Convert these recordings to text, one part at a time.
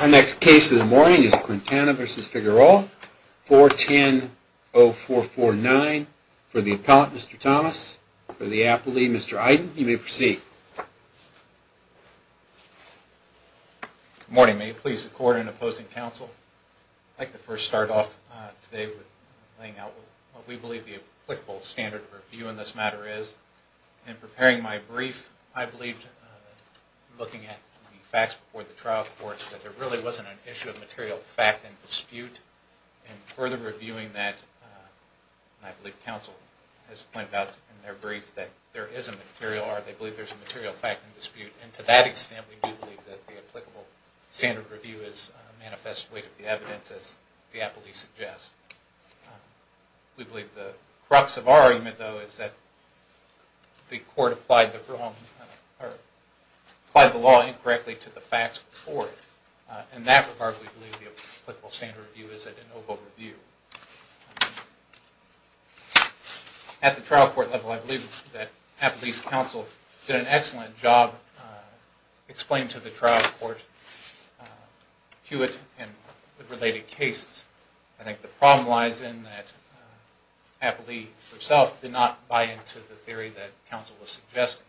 Our next case of the morning is Quintana v. Figueroa 410-0449 for the appellant, Mr. Thomas, for the appellee, Mr. Iden. You may proceed. Good morning. May it please the Court in opposing counsel, I'd like to first start off today with laying out what we believe the applicable standard of review in this matter is. In preparing my brief, I believed, looking at the facts before the trial courts, that there really wasn't an issue of material fact and dispute. And further reviewing that, I believe counsel has pointed out in their brief that there is a material, or they believe there's a material fact and dispute. And to that extent, we do believe that the applicable standard of review is manifest weight of the evidence, as the appellee suggests. We believe the crux of our argument, though, is that the court applied the wrong, or applied the law incorrectly to the facts before it. In that regard, we believe the applicable standard of review is a de novo review. At the trial court level, I believe that appellee's counsel did an excellent job explaining to the trial court Hewitt and related cases. I think the problem lies in that appellee herself did not buy into the theory that counsel was suggesting.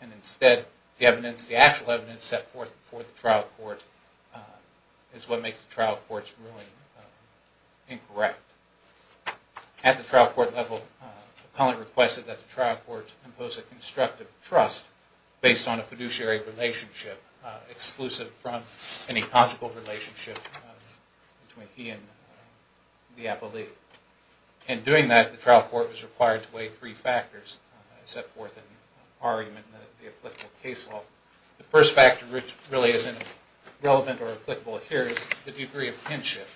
And instead, the evidence, the actual evidence set forth before the trial court is what makes the trial court's ruling incorrect. At the trial court level, the appellant requested that the trial court impose a constructive trust based on a fiduciary relationship, exclusive from any conjugal relationship between he and the appellee. In doing that, the trial court was required to weigh three factors set forth in our argument in the applicable case law. The first factor, which really isn't relevant or applicable here, is the degree of kinship.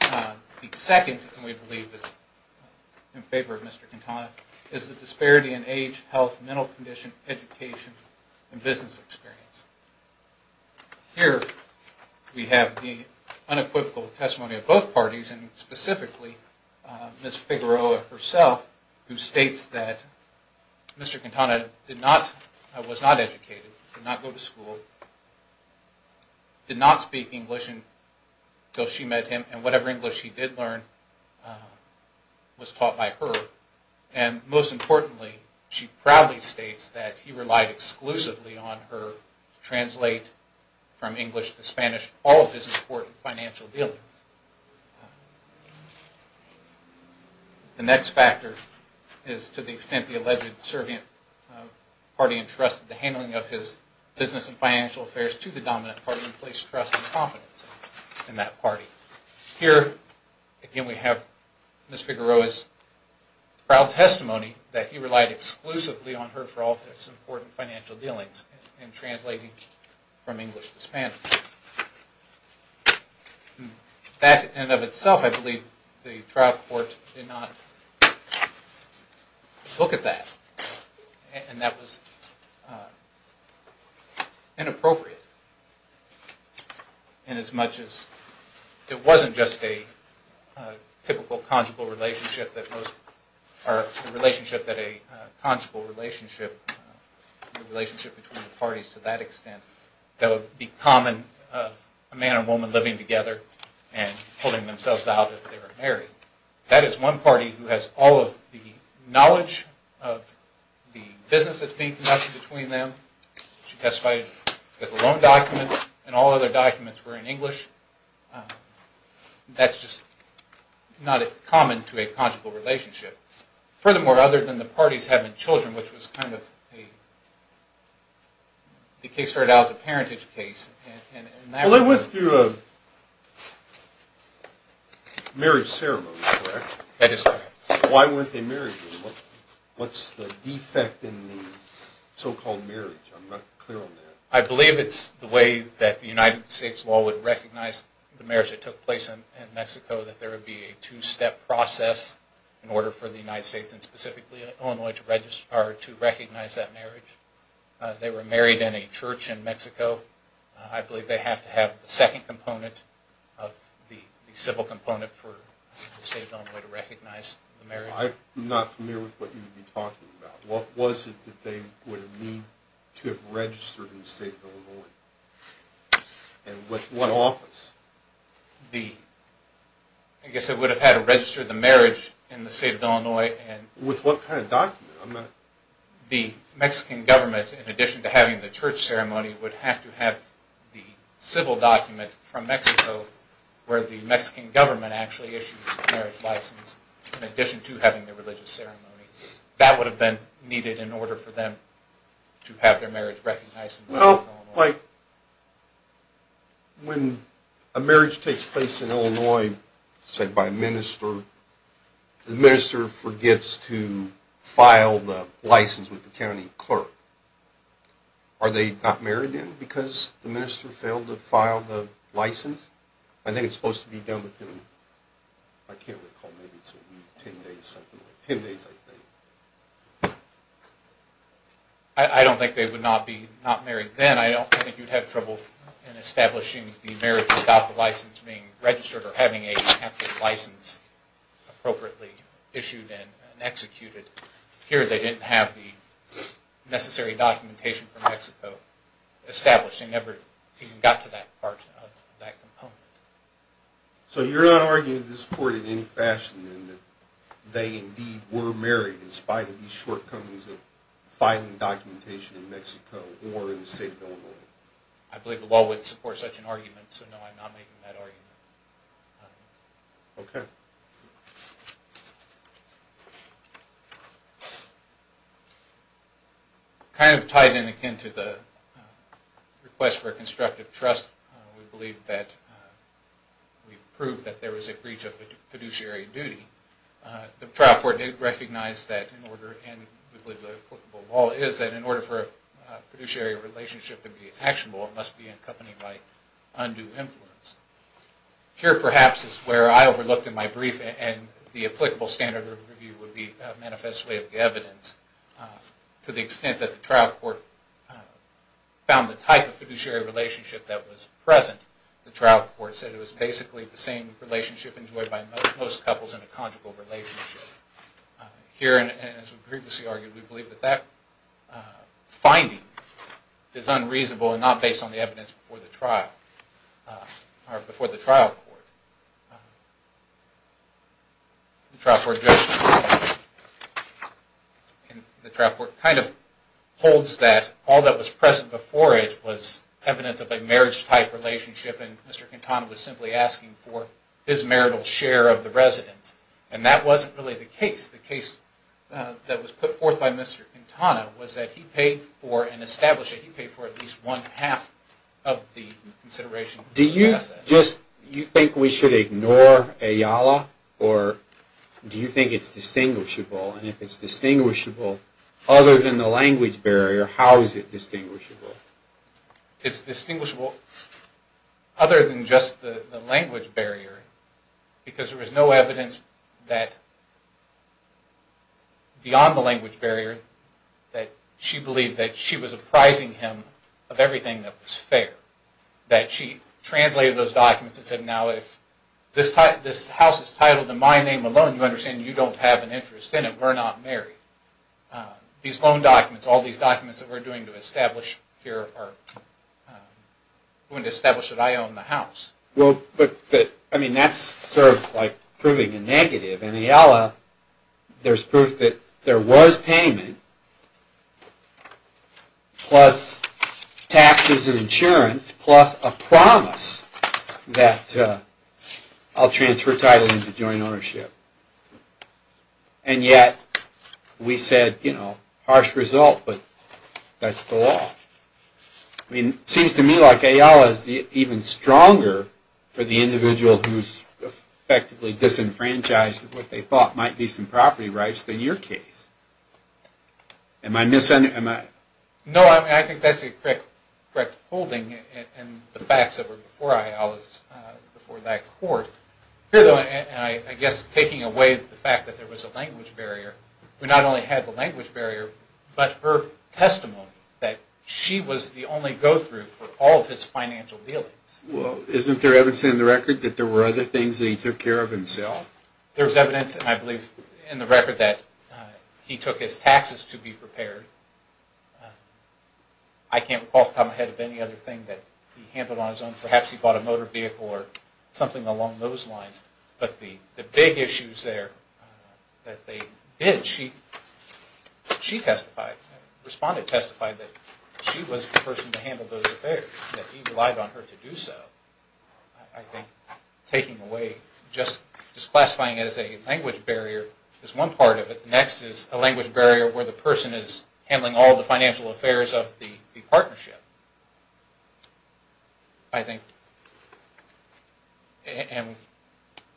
The second, which we believe is in favor of Mr. Quintana, is the disparity in age, health, mental condition, education, and business experience. Here, we have the unequivocal testimony of both parties, and specifically Ms. Figueroa herself, who states that Mr. Quintana was not educated, did not go to school, did not speak English until she met him, and whatever English he did learn was taught by her. And most importantly, she proudly states that he relied exclusively on her to translate from English to Spanish all of his important financial dealings. The next factor is to the extent the alleged servant party entrusted the handling of his business and financial affairs to the dominant party and placed trust and confidence in that party. Here, again, we have Ms. Figueroa's proud testimony that he relied exclusively on her for all of his important financial dealings in translating from English to Spanish. That, in and of itself, I believe the trial court did not look at that, and that was inappropriate. And as much as it wasn't just a typical conjugal relationship that most, or a relationship that a conjugal relationship, a relationship between the parties to that extent, that would be common of a man and a woman living together and holding themselves out if they were married. That is one party who has all of the knowledge of the business that's being conducted between them. She testified that the loan documents and all other documents were in English. That's just not common to a conjugal relationship. Furthermore, other than the parties having children, which was kind of a, the case started out as a parentage case. Well, they went through a marriage ceremony, correct? That is correct. Why weren't they married? What's the defect in the so-called marriage? I'm not clear on that. I believe it's the way that the United States law would recognize the marriage that took place in Mexico, that there would be a two-step process in order for the United States, and specifically Illinois, to recognize that marriage. They were married in a church in Mexico. I believe they have to have the second component of the civil component for the state of Illinois to recognize the marriage. I'm not familiar with what you would be talking about. What was it that they would have needed to have registered in the state of Illinois? And with what office? I guess they would have had to register the marriage in the state of Illinois. With what kind of document? The Mexican government, in addition to having the church ceremony, would have to have the civil document from Mexico, where the Mexican government actually issues the marriage license, in addition to having the religious ceremony. That would have been needed in order for them to have their marriage recognized in the state of Illinois. It sounds like when a marriage takes place in Illinois, say by a minister, the minister forgets to file the license with the county clerk. Are they not married then because the minister failed to file the license? I think it's supposed to be done within, I can't recall, maybe it's a week, 10 days, something like that. I don't think they would not be married then. I don't think you'd have trouble establishing the marriage without the license being registered or having an actual license appropriately issued and executed. Here they didn't have the necessary documentation from Mexico established. They never even got to that part of that component. So you're not arguing this court in any fashion in that they indeed were married, in spite of these shortcomings of filing documentation in Mexico or in the state of Illinois? I believe the law would support such an argument, so no, I'm not making that argument. Okay. Kind of tied in again to the request for constructive trust, we believe that we proved that there was a breach of fiduciary duty. The trial court did recognize that in order, and we believe the applicable law is, that in order for a fiduciary relationship to be actionable, it must be accompanied by undue influence. Here perhaps is where I overlooked in my brief, and the applicable standard of review would be a manifest way of the evidence. To the extent that the trial court found the type of fiduciary relationship that was present, the trial court said it was basically the same relationship enjoyed by most couples in a conjugal relationship. Here, and as we previously argued, we believe that that finding is unreasonable and not based on the evidence before the trial court. The trial court kind of holds that all that was present before it was evidence of a marriage-type relationship, and Mr. Quintana was simply asking for his marital share of the residence, and that wasn't really the case. The case that was put forth by Mr. Quintana was that he paid for, and established that he paid for at least one-half of the consideration. Do you think we should ignore Ayala, or do you think it's distinguishable, and if it's distinguishable other than the language barrier, how is it distinguishable? It's distinguishable other than just the language barrier, because there was no evidence beyond the language barrier that she believed that she was apprising him of everything that was fair. That she translated those documents and said, now if this house is titled in my name alone, you understand you don't have an interest in it. We're not married. These loan documents, all these documents that we're doing to establish here, are going to establish that I own the house. Well, but that's sort of like proving a negative. In Ayala, there's proof that there was payment, plus taxes and insurance, plus a promise that I'll transfer title into joint ownership. And yet, we said, you know, harsh result, but that's the law. It seems to me like Ayala is even stronger for the individual who's effectively disenfranchised of what they thought might be some property rights than your case. Am I misunderstanding? No, I think that's a correct holding in the facts that were before Ayala's, before that court. Here, though, I guess taking away the fact that there was a language barrier, we not only had the language barrier, but her testimony that she was the only go-through for all of his financial dealings. Well, isn't there evidence in the record that there were other things that he took care of himself? There's evidence, I believe, in the record that he took his taxes to be prepared. I can't recall the time ahead of any other thing that he handled on his own. Perhaps he bought a motor vehicle or something along those lines. But the big issues there that they did, she testified, responded, testified that she was the person to handle those affairs, that he relied on her to do so. I think taking away, just classifying it as a language barrier is one part of it. The next is a language barrier where the person is handling all the financial affairs of the partnership. I think, and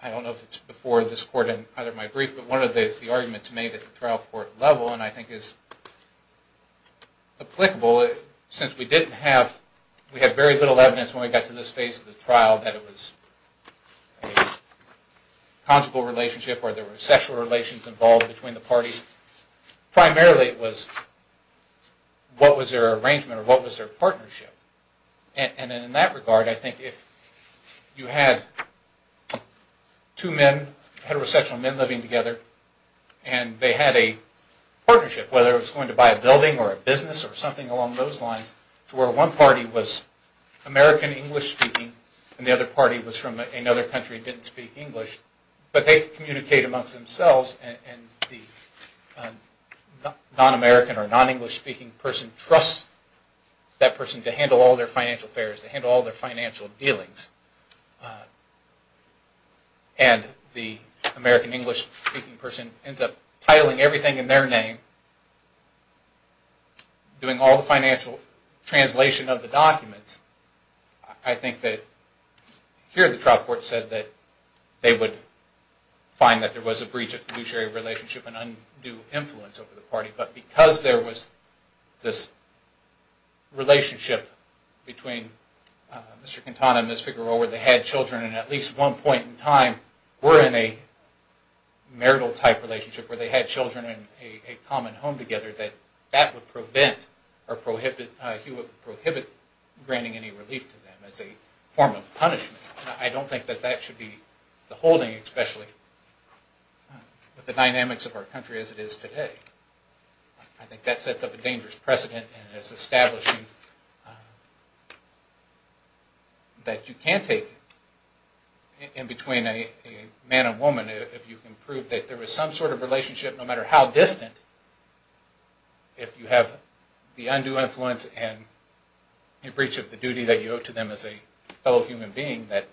I don't know if it's before this court in either of my briefs, but one of the arguments made at the trial court level, and I think is applicable, since we didn't have, we had very little evidence when we got to this phase of the trial that it was a conjugal relationship or there were sexual relations involved between the parties. Primarily it was what was their arrangement or what was their partnership. And in that regard, I think if you had two men, heterosexual men living together, and they had a partnership, whether it was going to buy a building or a business or something along those lines, to where one party was American English speaking and the other party was from another country and didn't speak English, but they could communicate amongst themselves and the non-American or non-English speaking person trusts that person to handle all their financial affairs, to handle all their financial dealings. And the American English speaking person ends up titling everything in their name, doing all the financial translation of the documents. I think that here the trial court said that they would find that there was a breach of fiduciary relationship and undue influence over the party, but because there was this relationship between Mr. Quintana and Ms. Figueroa where they had children and at least one point in time were in a marital type relationship where they had children in a common home together, that that would prevent or prohibit, he would prohibit granting any relief to them as a form of punishment. I don't think that that should be the holding, especially with the dynamics of our country as it is today. I think that sets up a dangerous precedent and it's establishing that you can't take in between a man and woman if you can prove that there was some sort of relationship, no matter how distant, if you have the undue influence and a breach of the duty that you owe to them as a fellow human being, that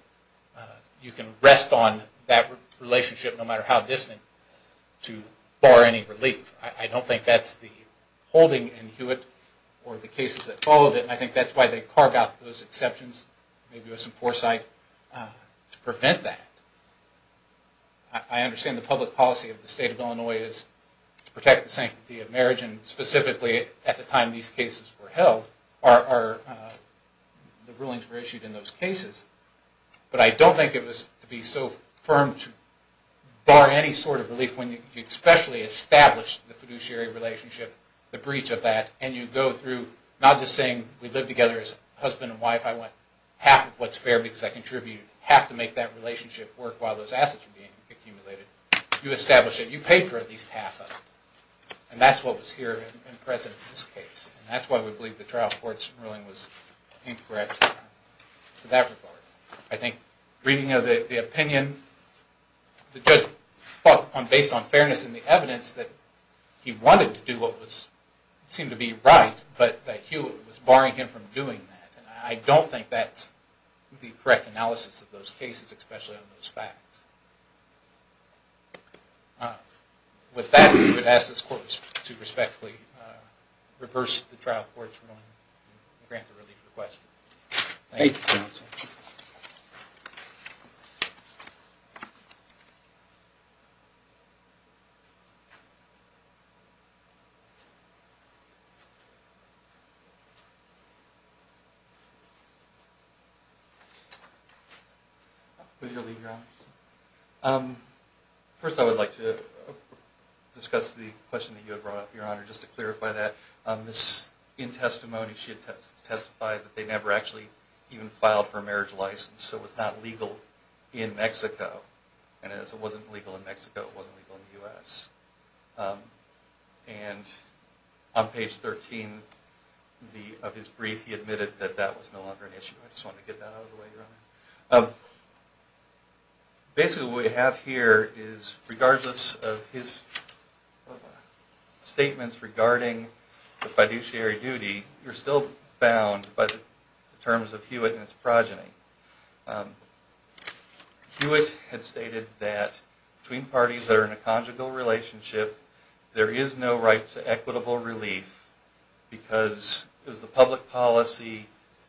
you can rest on that relationship no matter how distant to bar any relief. I don't think that's the holding in Hewitt or the cases that followed it, and I think that's why they carved out those exceptions, maybe with some foresight, to prevent that. I understand the public policy of the state of Illinois is to protect the sanctity of marriage and specifically at the time these cases were held, the rulings were issued in those cases, but I don't think it was to be so firm to bar any sort of relief when you especially establish the fiduciary relationship, the breach of that, and you go through not just saying we live together as husband and wife, I want half of what's fair because I contributed, half to make that relationship work while those assets are being accumulated, you establish that you paid for at least half of it, and that's what was here and present in this case, and that's why we believe the trial court's ruling was incorrect in that regard. I think reading the opinion, the judge fought based on fairness in the evidence that he wanted to do what seemed to be right, but that Hewitt was barring him from doing that, and I don't think that's the correct analysis of those cases, especially on those facts. With that, I'm going to ask this court to respectfully reverse the trial court's ruling and grant the relief requested. Thank you, counsel. With your leave, Your Honor. First, I would like to discuss the question that you had brought up, Your Honor, just to clarify that. In testimony, she had testified that they never actually even filed for a marriage license, so it was not legal in Mexico, and as it wasn't legal in Mexico, it wasn't legal in the U.S. And on page 13 of his brief, he admitted that that was no longer an issue. I just wanted to get that out of the way, Your Honor. Basically, what we have here is, regardless of his statements regarding the fiduciary duty, you're still bound by the terms of Hewitt and his progeny. Hewitt had stated that between parties that are in a conjugal relationship, there is no right to equitable relief because it was the public policy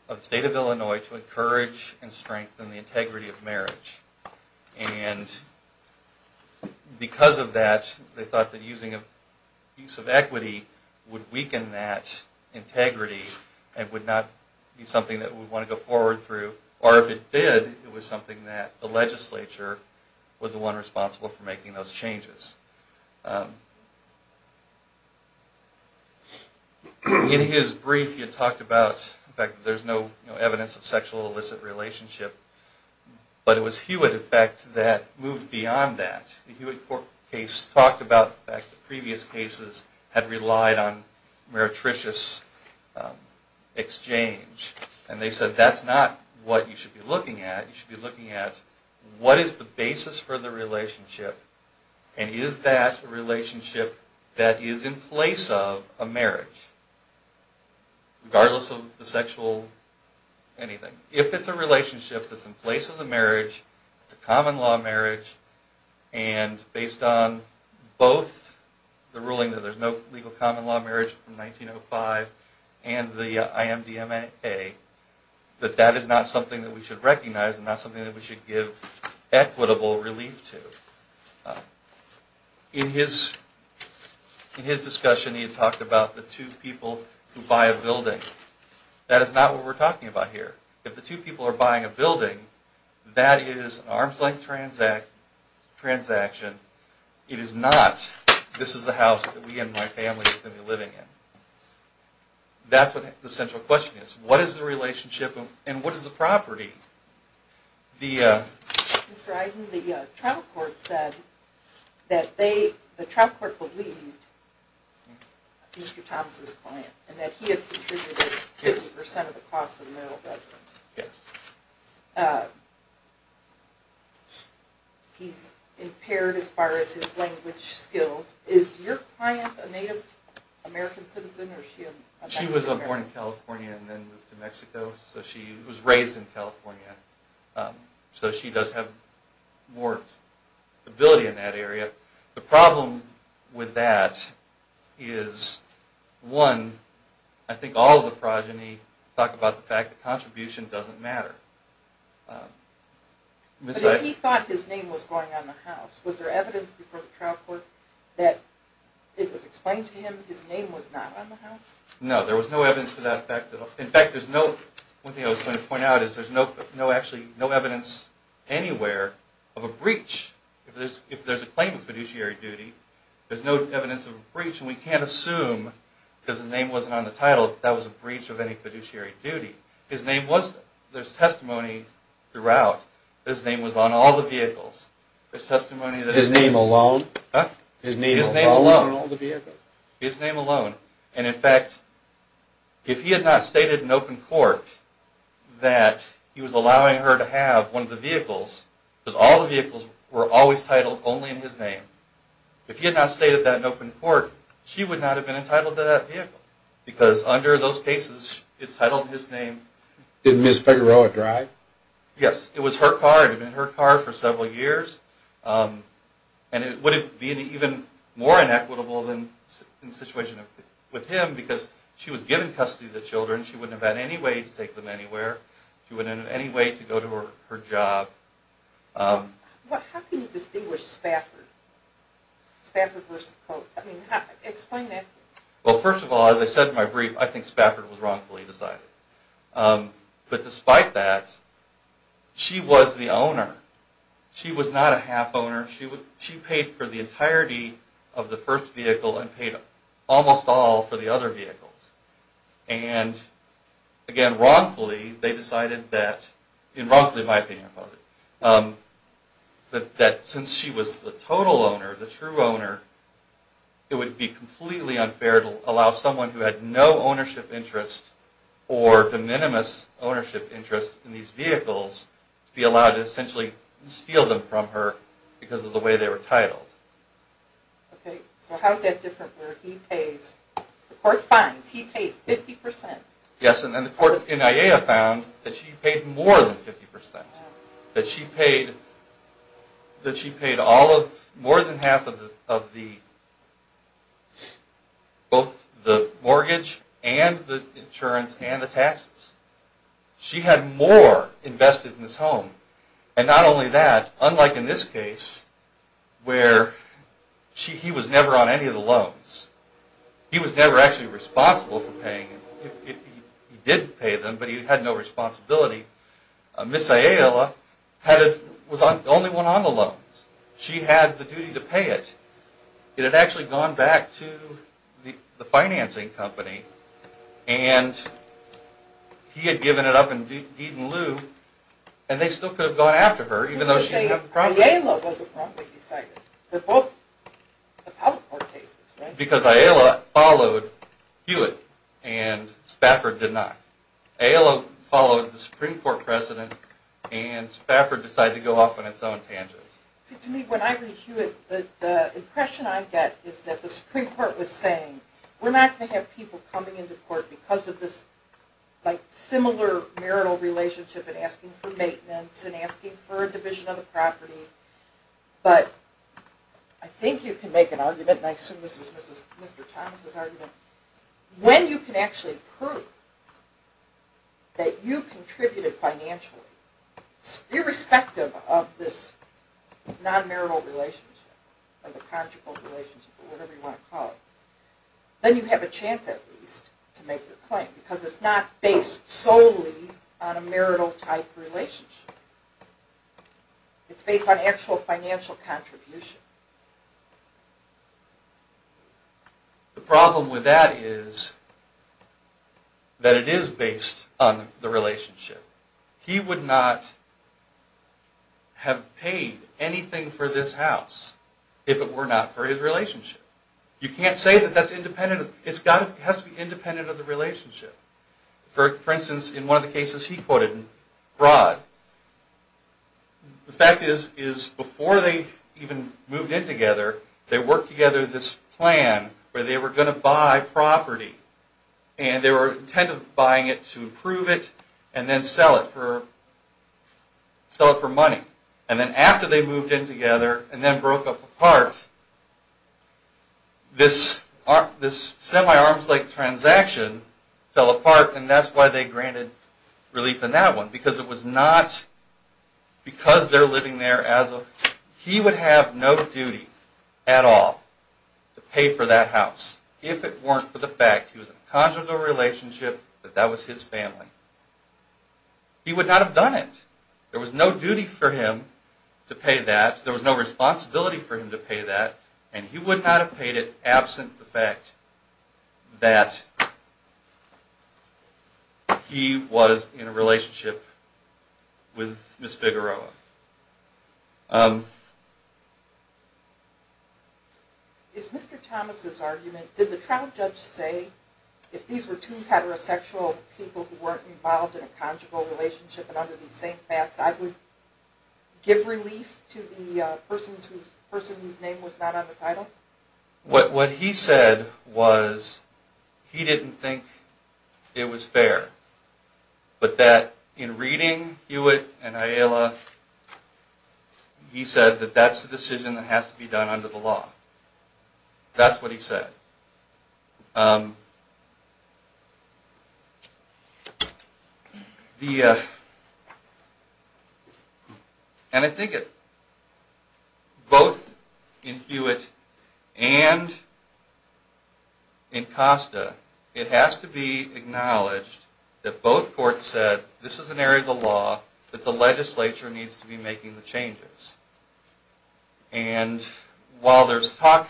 of the state of Illinois to encourage and strengthen the integrity of marriage. And because of that, they thought that using a piece of equity would weaken that integrity and would not be something that we would want to go forward through. Or if it did, it was something that the legislature was the one responsible for making those changes. In his brief, he had talked about the fact that there's no evidence of sexual illicit relationship, but it was Hewitt, in fact, that moved beyond that. The Hewitt court case talked about the fact that previous cases had relied on meretricious exchange. And they said that's not what you should be looking at. You should be looking at what is the basis for the relationship, and is that relationship that is in place of a marriage, regardless of the sexual anything. If it's a relationship that's in place of a marriage, it's a common law marriage, and based on both the ruling that there's no legal common law marriage from 1905 and the IMDMA, that that is not something that we should recognize and not something that we should give equitable relief to. In his discussion, he had talked about the two people who buy a building. That is not what we're talking about here. If the two people are buying a building, that is an arm's length transaction. It is not this is a house that we and my family are going to be living in. That's what the central question is. What is the relationship, and what is the property? Mr. Eisen, the trial court said that they, the trial court believed Mr. Thomas' client, and that he had contributed 50% of the cost of the marital residence. Yes. He's impaired as far as his language skills. Is your client a Native American citizen, or is she a Mexican American? She was born in California and then moved to Mexico. She was raised in California, so she does have more ability in that area. The problem with that is, one, I think all of the progeny talk about the fact that contribution doesn't matter. But if he thought his name was going on the house, was there evidence before the trial court that it was explained to him his name was not on the house? No, there was no evidence to that effect. In fact, one thing I was going to point out is there's no evidence anywhere of a breach. If there's a claim of fiduciary duty, there's no evidence of a breach, and we can't assume because his name wasn't on the title that that was a breach of any fiduciary duty. There's testimony throughout that his name was on all the vehicles. His name alone? Huh? His name alone on all the vehicles? His name alone. And, in fact, if he had not stated in open court that he was allowing her to have one of the vehicles, because all the vehicles were always titled only in his name, if he had not stated that in open court, she would not have been entitled to that vehicle because under those cases it's titled in his name. Did Ms. Figueroa drive? Yes. It was her car. It had been her car for several years. And it would have been even more inequitable in the situation with him because she was given custody of the children. She wouldn't have had any way to take them anywhere. She wouldn't have had any way to go to her job. How can you distinguish Spafford? Spafford versus Coates. Explain that to me. Well, first of all, as I said in my brief, I think Spafford was wrongfully decided. But despite that, she was the owner. She was not a half owner. She paid for the entirety of the first vehicle and paid almost all for the other vehicles. And, again, wrongfully they decided that, in wrongfully my opinion about it, that since she was the total owner, the true owner, it would be completely unfair to allow someone who had no ownership interest or de minimis ownership interest in these vehicles to be allowed to essentially steal them from her because of the way they were titled. Okay. So how is that different where he pays? The court finds he paid 50%. Yes. And the court in IAEA found that she paid more than 50%, that she paid more than half of both the mortgage and the insurance and the taxes. She had more invested in this home. And not only that, unlike in this case where he was never on any of the loans, he was never actually responsible for paying. He did pay them, but he had no responsibility. Ms. Ayala was the only one on the loans. She had the duty to pay it. It had actually gone back to the financing company and he had given it up in Deed and Lou, and they still could have gone after her even though she didn't have the property. Ms. Ayala wasn't wrongly decided. They're both appellate court cases, right? Because Ayala followed Hewitt and Spafford did not. Ayala followed the Supreme Court precedent and Spafford decided to go off on its own tangent. See, to me, when I read Hewitt, the impression I get is that the Supreme Court was saying, we're not going to have people coming into court because of this similar marital relationship and asking for maintenance and asking for a division of the property. But I think you can make an argument, and I assume this is Mr. Thomas's argument, when you can actually prove that you contributed financially, irrespective of this non-marital relationship or the conjugal relationship or whatever you want to call it, then you have a chance at least to make the claim because it's not based solely on a marital type relationship. It's based on actual financial contribution. The problem with that is that it is based on the relationship. He would not have paid anything for this house if it were not for his relationship. You can't say that that's independent. It has to be independent of the relationship. For instance, in one of the cases he quoted in Broad, the fact is before they even moved in together, they worked together this plan where they were going to buy property and they were intent of buying it to improve it and then sell it for money. And then after they moved in together and then broke up apart, this semi-arms-length transaction fell apart and that's why they granted relief in that one because it was not because they're living there as a... He would have no duty at all to pay for that house if it weren't for the fact he was in a conjugal relationship that that was his family. He would not have done it. There was no duty for him to pay that. There was no responsibility for him to pay that and he would not have paid it absent the fact that he was in a relationship with Miss Figueroa. Is Mr. Thomas' argument, did the trial judge say if these were two heterosexual people who weren't involved in a conjugal relationship and under the same baths, I would give relief to the person whose name was not on the title? What he said was he didn't think it was fair, but that in reading Hewitt and Ayala, he said that that's the decision that has to be done under the law. That's what he said. And I think both in Hewitt and in Costa, it has to be acknowledged that both courts said this is an area of the law that the legislature needs to be making the changes. And while there's talk,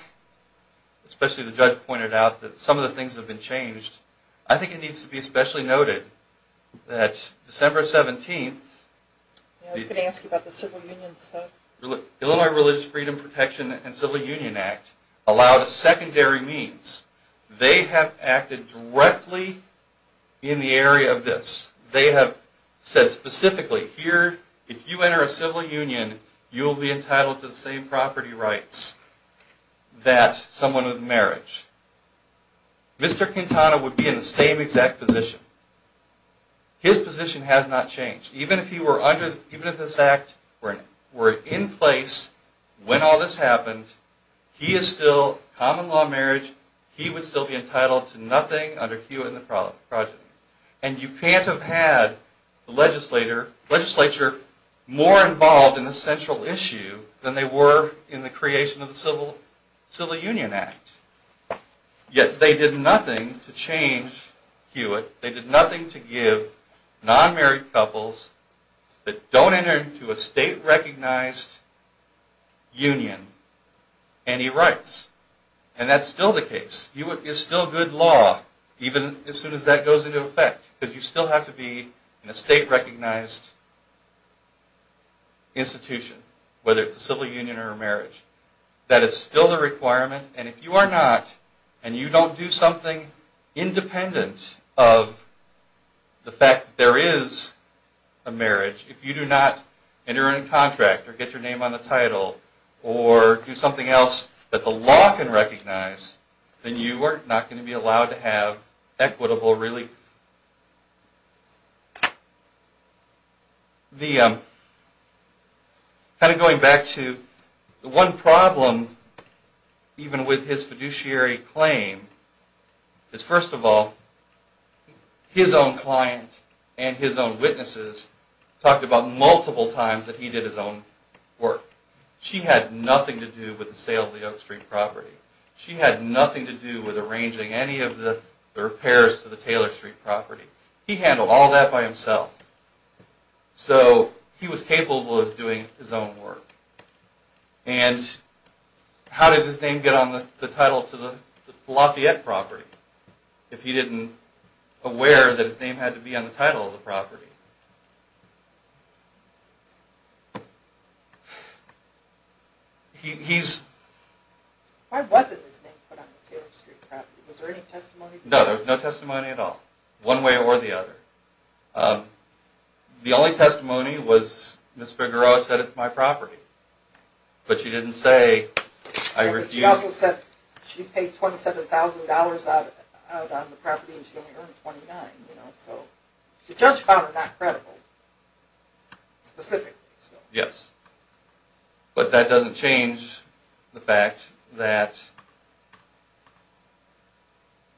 especially the judge pointed out, that some of the things have been changed, I think it needs to be especially noted that December 17th, Illinois Religious Freedom Protection and Civil Union Act allowed a secondary means. They have acted directly in the area of this. They have said specifically, here, if you enter a civil union, you will be entitled to the same property rights that someone with marriage. Mr. Quintana would be in the same exact position. His position has not changed. Even if this act were in place when all this happened, he is still common law marriage. He would still be entitled to nothing under Hewitt and the Project. And you can't have had the legislature more involved in the central issue than they were in the creation of the Civil Union Act. Yet they did nothing to change Hewitt. They did nothing to give non-married couples that don't enter into a state-recognized union any rights. And that's still the case. It's still good law, even as soon as that goes into effect. Because you still have to be in a state-recognized institution, whether it's a civil union or a marriage. That is still the requirement. And if you are not, and you don't do something independent of the fact that there is a marriage, if you do not enter into a contract or get your name on the title or do something else that the law can recognize, then you are not going to be allowed to have equitable relief. Kind of going back to the one problem, even with his fiduciary claim, is first of all, his own client and his own witnesses talked about multiple times that he did his own work. She had nothing to do with the sale of the Oak Street property. She had nothing to do with arranging any of the repairs to the Taylor Street property. He handled all that by himself. So he was capable of doing his own work. And how did his name get on the title to the Lafayette property if he didn't aware that his name had to be on the title of the property? Why wasn't his name put on the Taylor Street property? Was there any testimony? No, there was no testimony at all. One way or the other. The only testimony was Ms. Figueroa said it's my property. But she didn't say I refused. She also said she paid $27,000 out on the property and she only earned $29,000. The judge found her not credible, specifically. Yes. But that doesn't change the fact that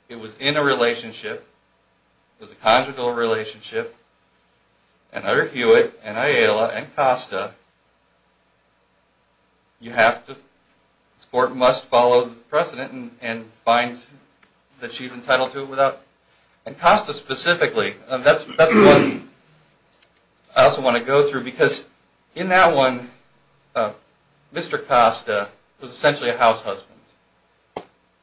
it was in a relationship, it was a conjugal relationship, and under Hewitt and Ayala and Costa, the court must follow the precedent and find that she's entitled to it. And Costa specifically, that's the one I also want to go through. Because in that one, Mr. Costa was essentially a house husband.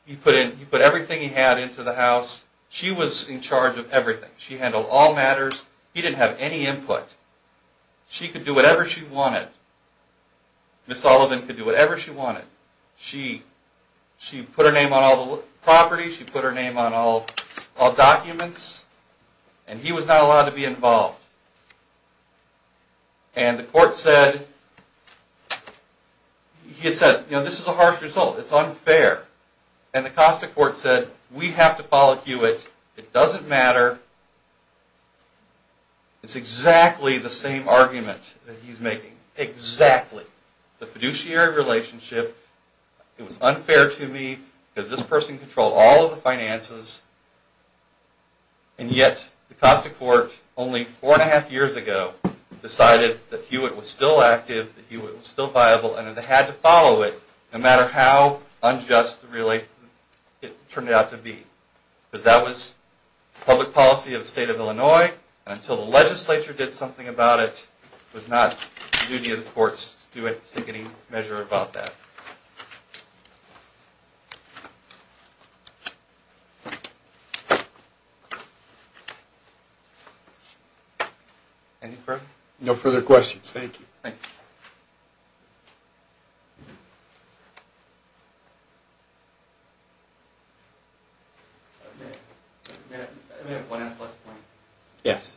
He put everything he had into the house. She was in charge of everything. She handled all matters. He didn't have any input. She could do whatever she wanted. Ms. Sullivan could do whatever she wanted. She put her name on all the properties. She put her name on all documents. And he was not allowed to be involved. And the court said, this is a harsh result. It's unfair. And the Costa court said, we have to follow Hewitt. It doesn't matter. It's exactly the same argument that he's making. Exactly. The fiduciary relationship, it was unfair to me, because this person controlled all of the finances. And yet, the Costa court, only four and a half years ago, decided that Hewitt was still active, that Hewitt was still viable, and that they had to follow it, no matter how unjust, really, it turned out to be. Because that was public policy of the state of Illinois, and until the legislature did something about it, it was not the duty of the courts to take any measure about that. Any further? No further questions. Thank you. Yes.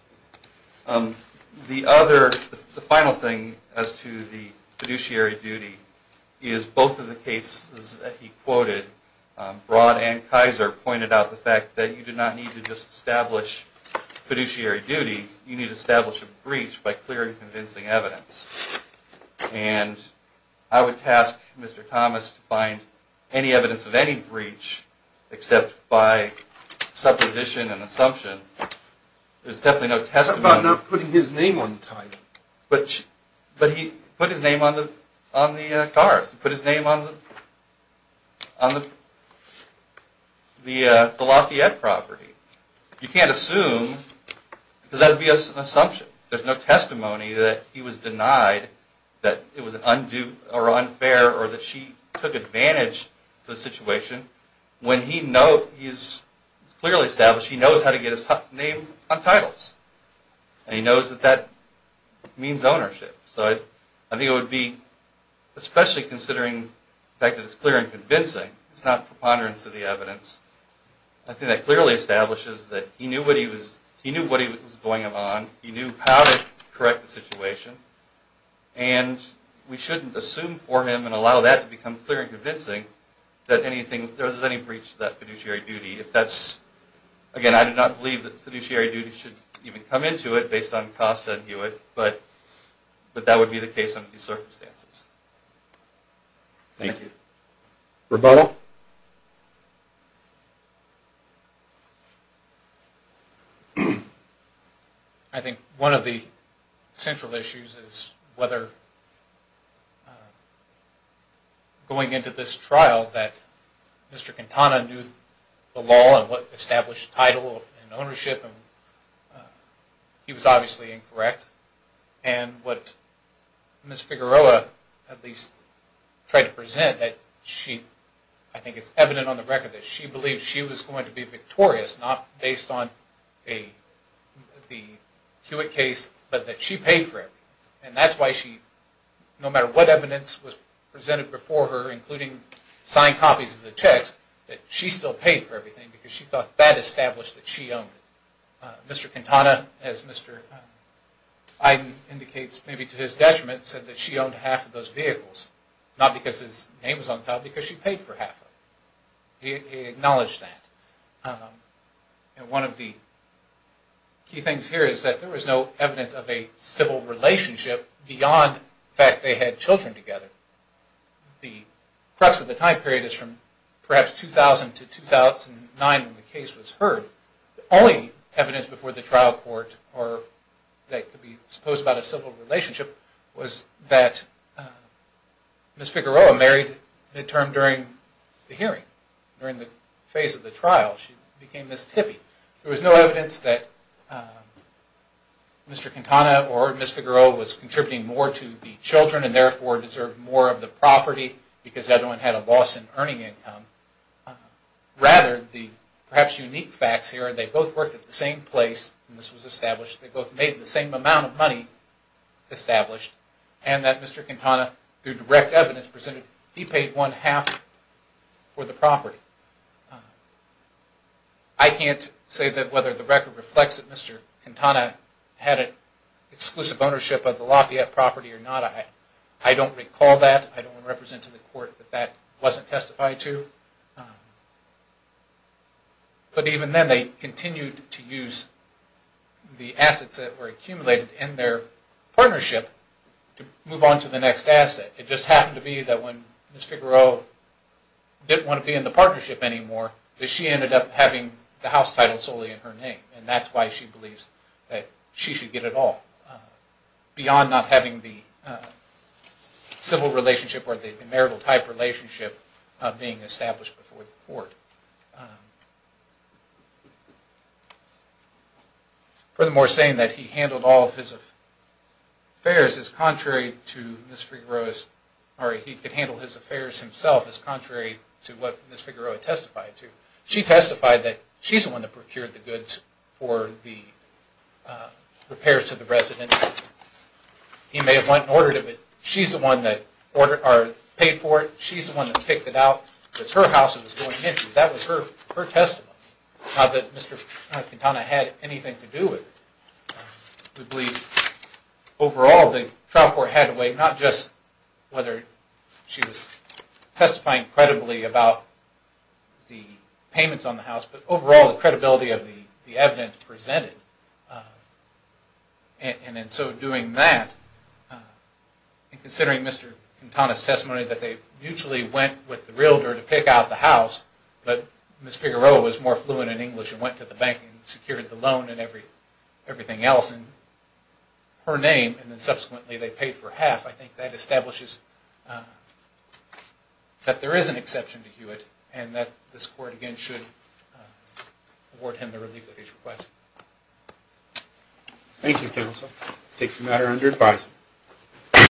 The other, the final thing, as to the fiduciary duty, is both of the cases that he quoted, Broad and Kaiser pointed out the fact that you do not need to just establish fiduciary duty, you need to establish a breach by clearing convincing evidence. if I may, if I may, if I may, if I may, if I may, found any evidence of any breach, except by supposition and assumption, there's definitely no testimony. How about not putting his name on the title? But he put his name on the cars. He put his name on the, the Lafayette property. You can't assume, because that would be an assumption. There's no testimony that he was denied, that it was unfair, or that she took advantage of the situation, when he knows, he's clearly established, he knows how to get his name on titles. And he knows that that means ownership. So I think it would be, especially considering the fact that it's clear and convincing, it's not preponderance of the evidence, I think that clearly establishes that he knew what he was, he knew what was going on, he knew how to correct the situation, and we shouldn't assume for him, and allow that to become clear and convincing, that there was any breach to that fiduciary duty. If that's, again I do not believe that fiduciary duty should even come into it, based on Costa and Hewitt, but that would be the case under these circumstances. Thank you. Rebuttal? I think one of the central issues, is whether going into this trial, that Mr. Quintana knew the law, and what established title and ownership, and he was obviously incorrect. And what Ms. Figueroa, at least tried to present, that she, I think it's evident on the record, that she believed she was going to be victorious, not based on the Hewitt case, but that she paid for it. And that's why she, no matter what evidence was presented before her, including signed copies of the text, that she still paid for everything, because she thought that established that she owned it. Mr. Quintana, as Mr. Iden indicates, maybe to his detriment, said that she owned half of those vehicles, not because his name was on the title, but because she paid for half of them. He acknowledged that. And one of the key things here, is that there was no evidence of a civil relationship, beyond the fact that they had children together. The crux of the time period, is from perhaps 2000 to 2009, when the case was heard. The only evidence before the trial court, that could be supposed about a civil relationship, was that Ms. Figueroa married midterm during the hearing, during the phase of the trial. She became Ms. Tippie. There was no evidence that Mr. Quintana or Ms. Figueroa, was contributing more to the children, and therefore deserved more of the property, because everyone had a loss in earning income. Rather, the perhaps unique facts here, they both worked at the same place, and this was established, they both made the same amount of money established, and that Mr. Quintana, through direct evidence presented, he paid one half for the property. I can't say that whether the record reflects that Mr. Quintana, had an exclusive ownership of the Lafayette property or not. I don't recall that. I don't want to represent to the court, that that wasn't testified to. But even then, they continued to use the assets, that were accumulated in their partnership, to move on to the next asset. It just happened to be that when Ms. Figueroa, didn't want to be in the partnership anymore, that she ended up having the house title solely in her name, and that's why she believes that she should get it all, beyond not having the civil relationship, or the marital type relationship, being established before the court. Furthermore, saying that he handled all of his affairs, as contrary to Ms. Figueroa's, or he could handle his affairs himself, as contrary to what Ms. Figueroa testified to. She testified that she's the one that procured the goods, for the repairs to the residence. He may have went and ordered it, but she's the one that paid for it, she's the one that picked it out, it was her house that was going into it, that was her testimony. Not that Mr. Quintana had anything to do with it. We believe overall the trial court had a way, not just whether she was testifying credibly, about the payments on the house, but overall the credibility of the evidence presented. And in so doing that, in considering Mr. Quintana's testimony, that they mutually went with the realtor, to pick out the house, but Ms. Figueroa was more fluent in English, and went to the bank and secured the loan, and everything else in her name, and then subsequently they paid for half, I think that establishes, that there is an exception to Hewitt, and that this court again should, award him the relief that he's requested. Thank you counsel, I take the matter under advice.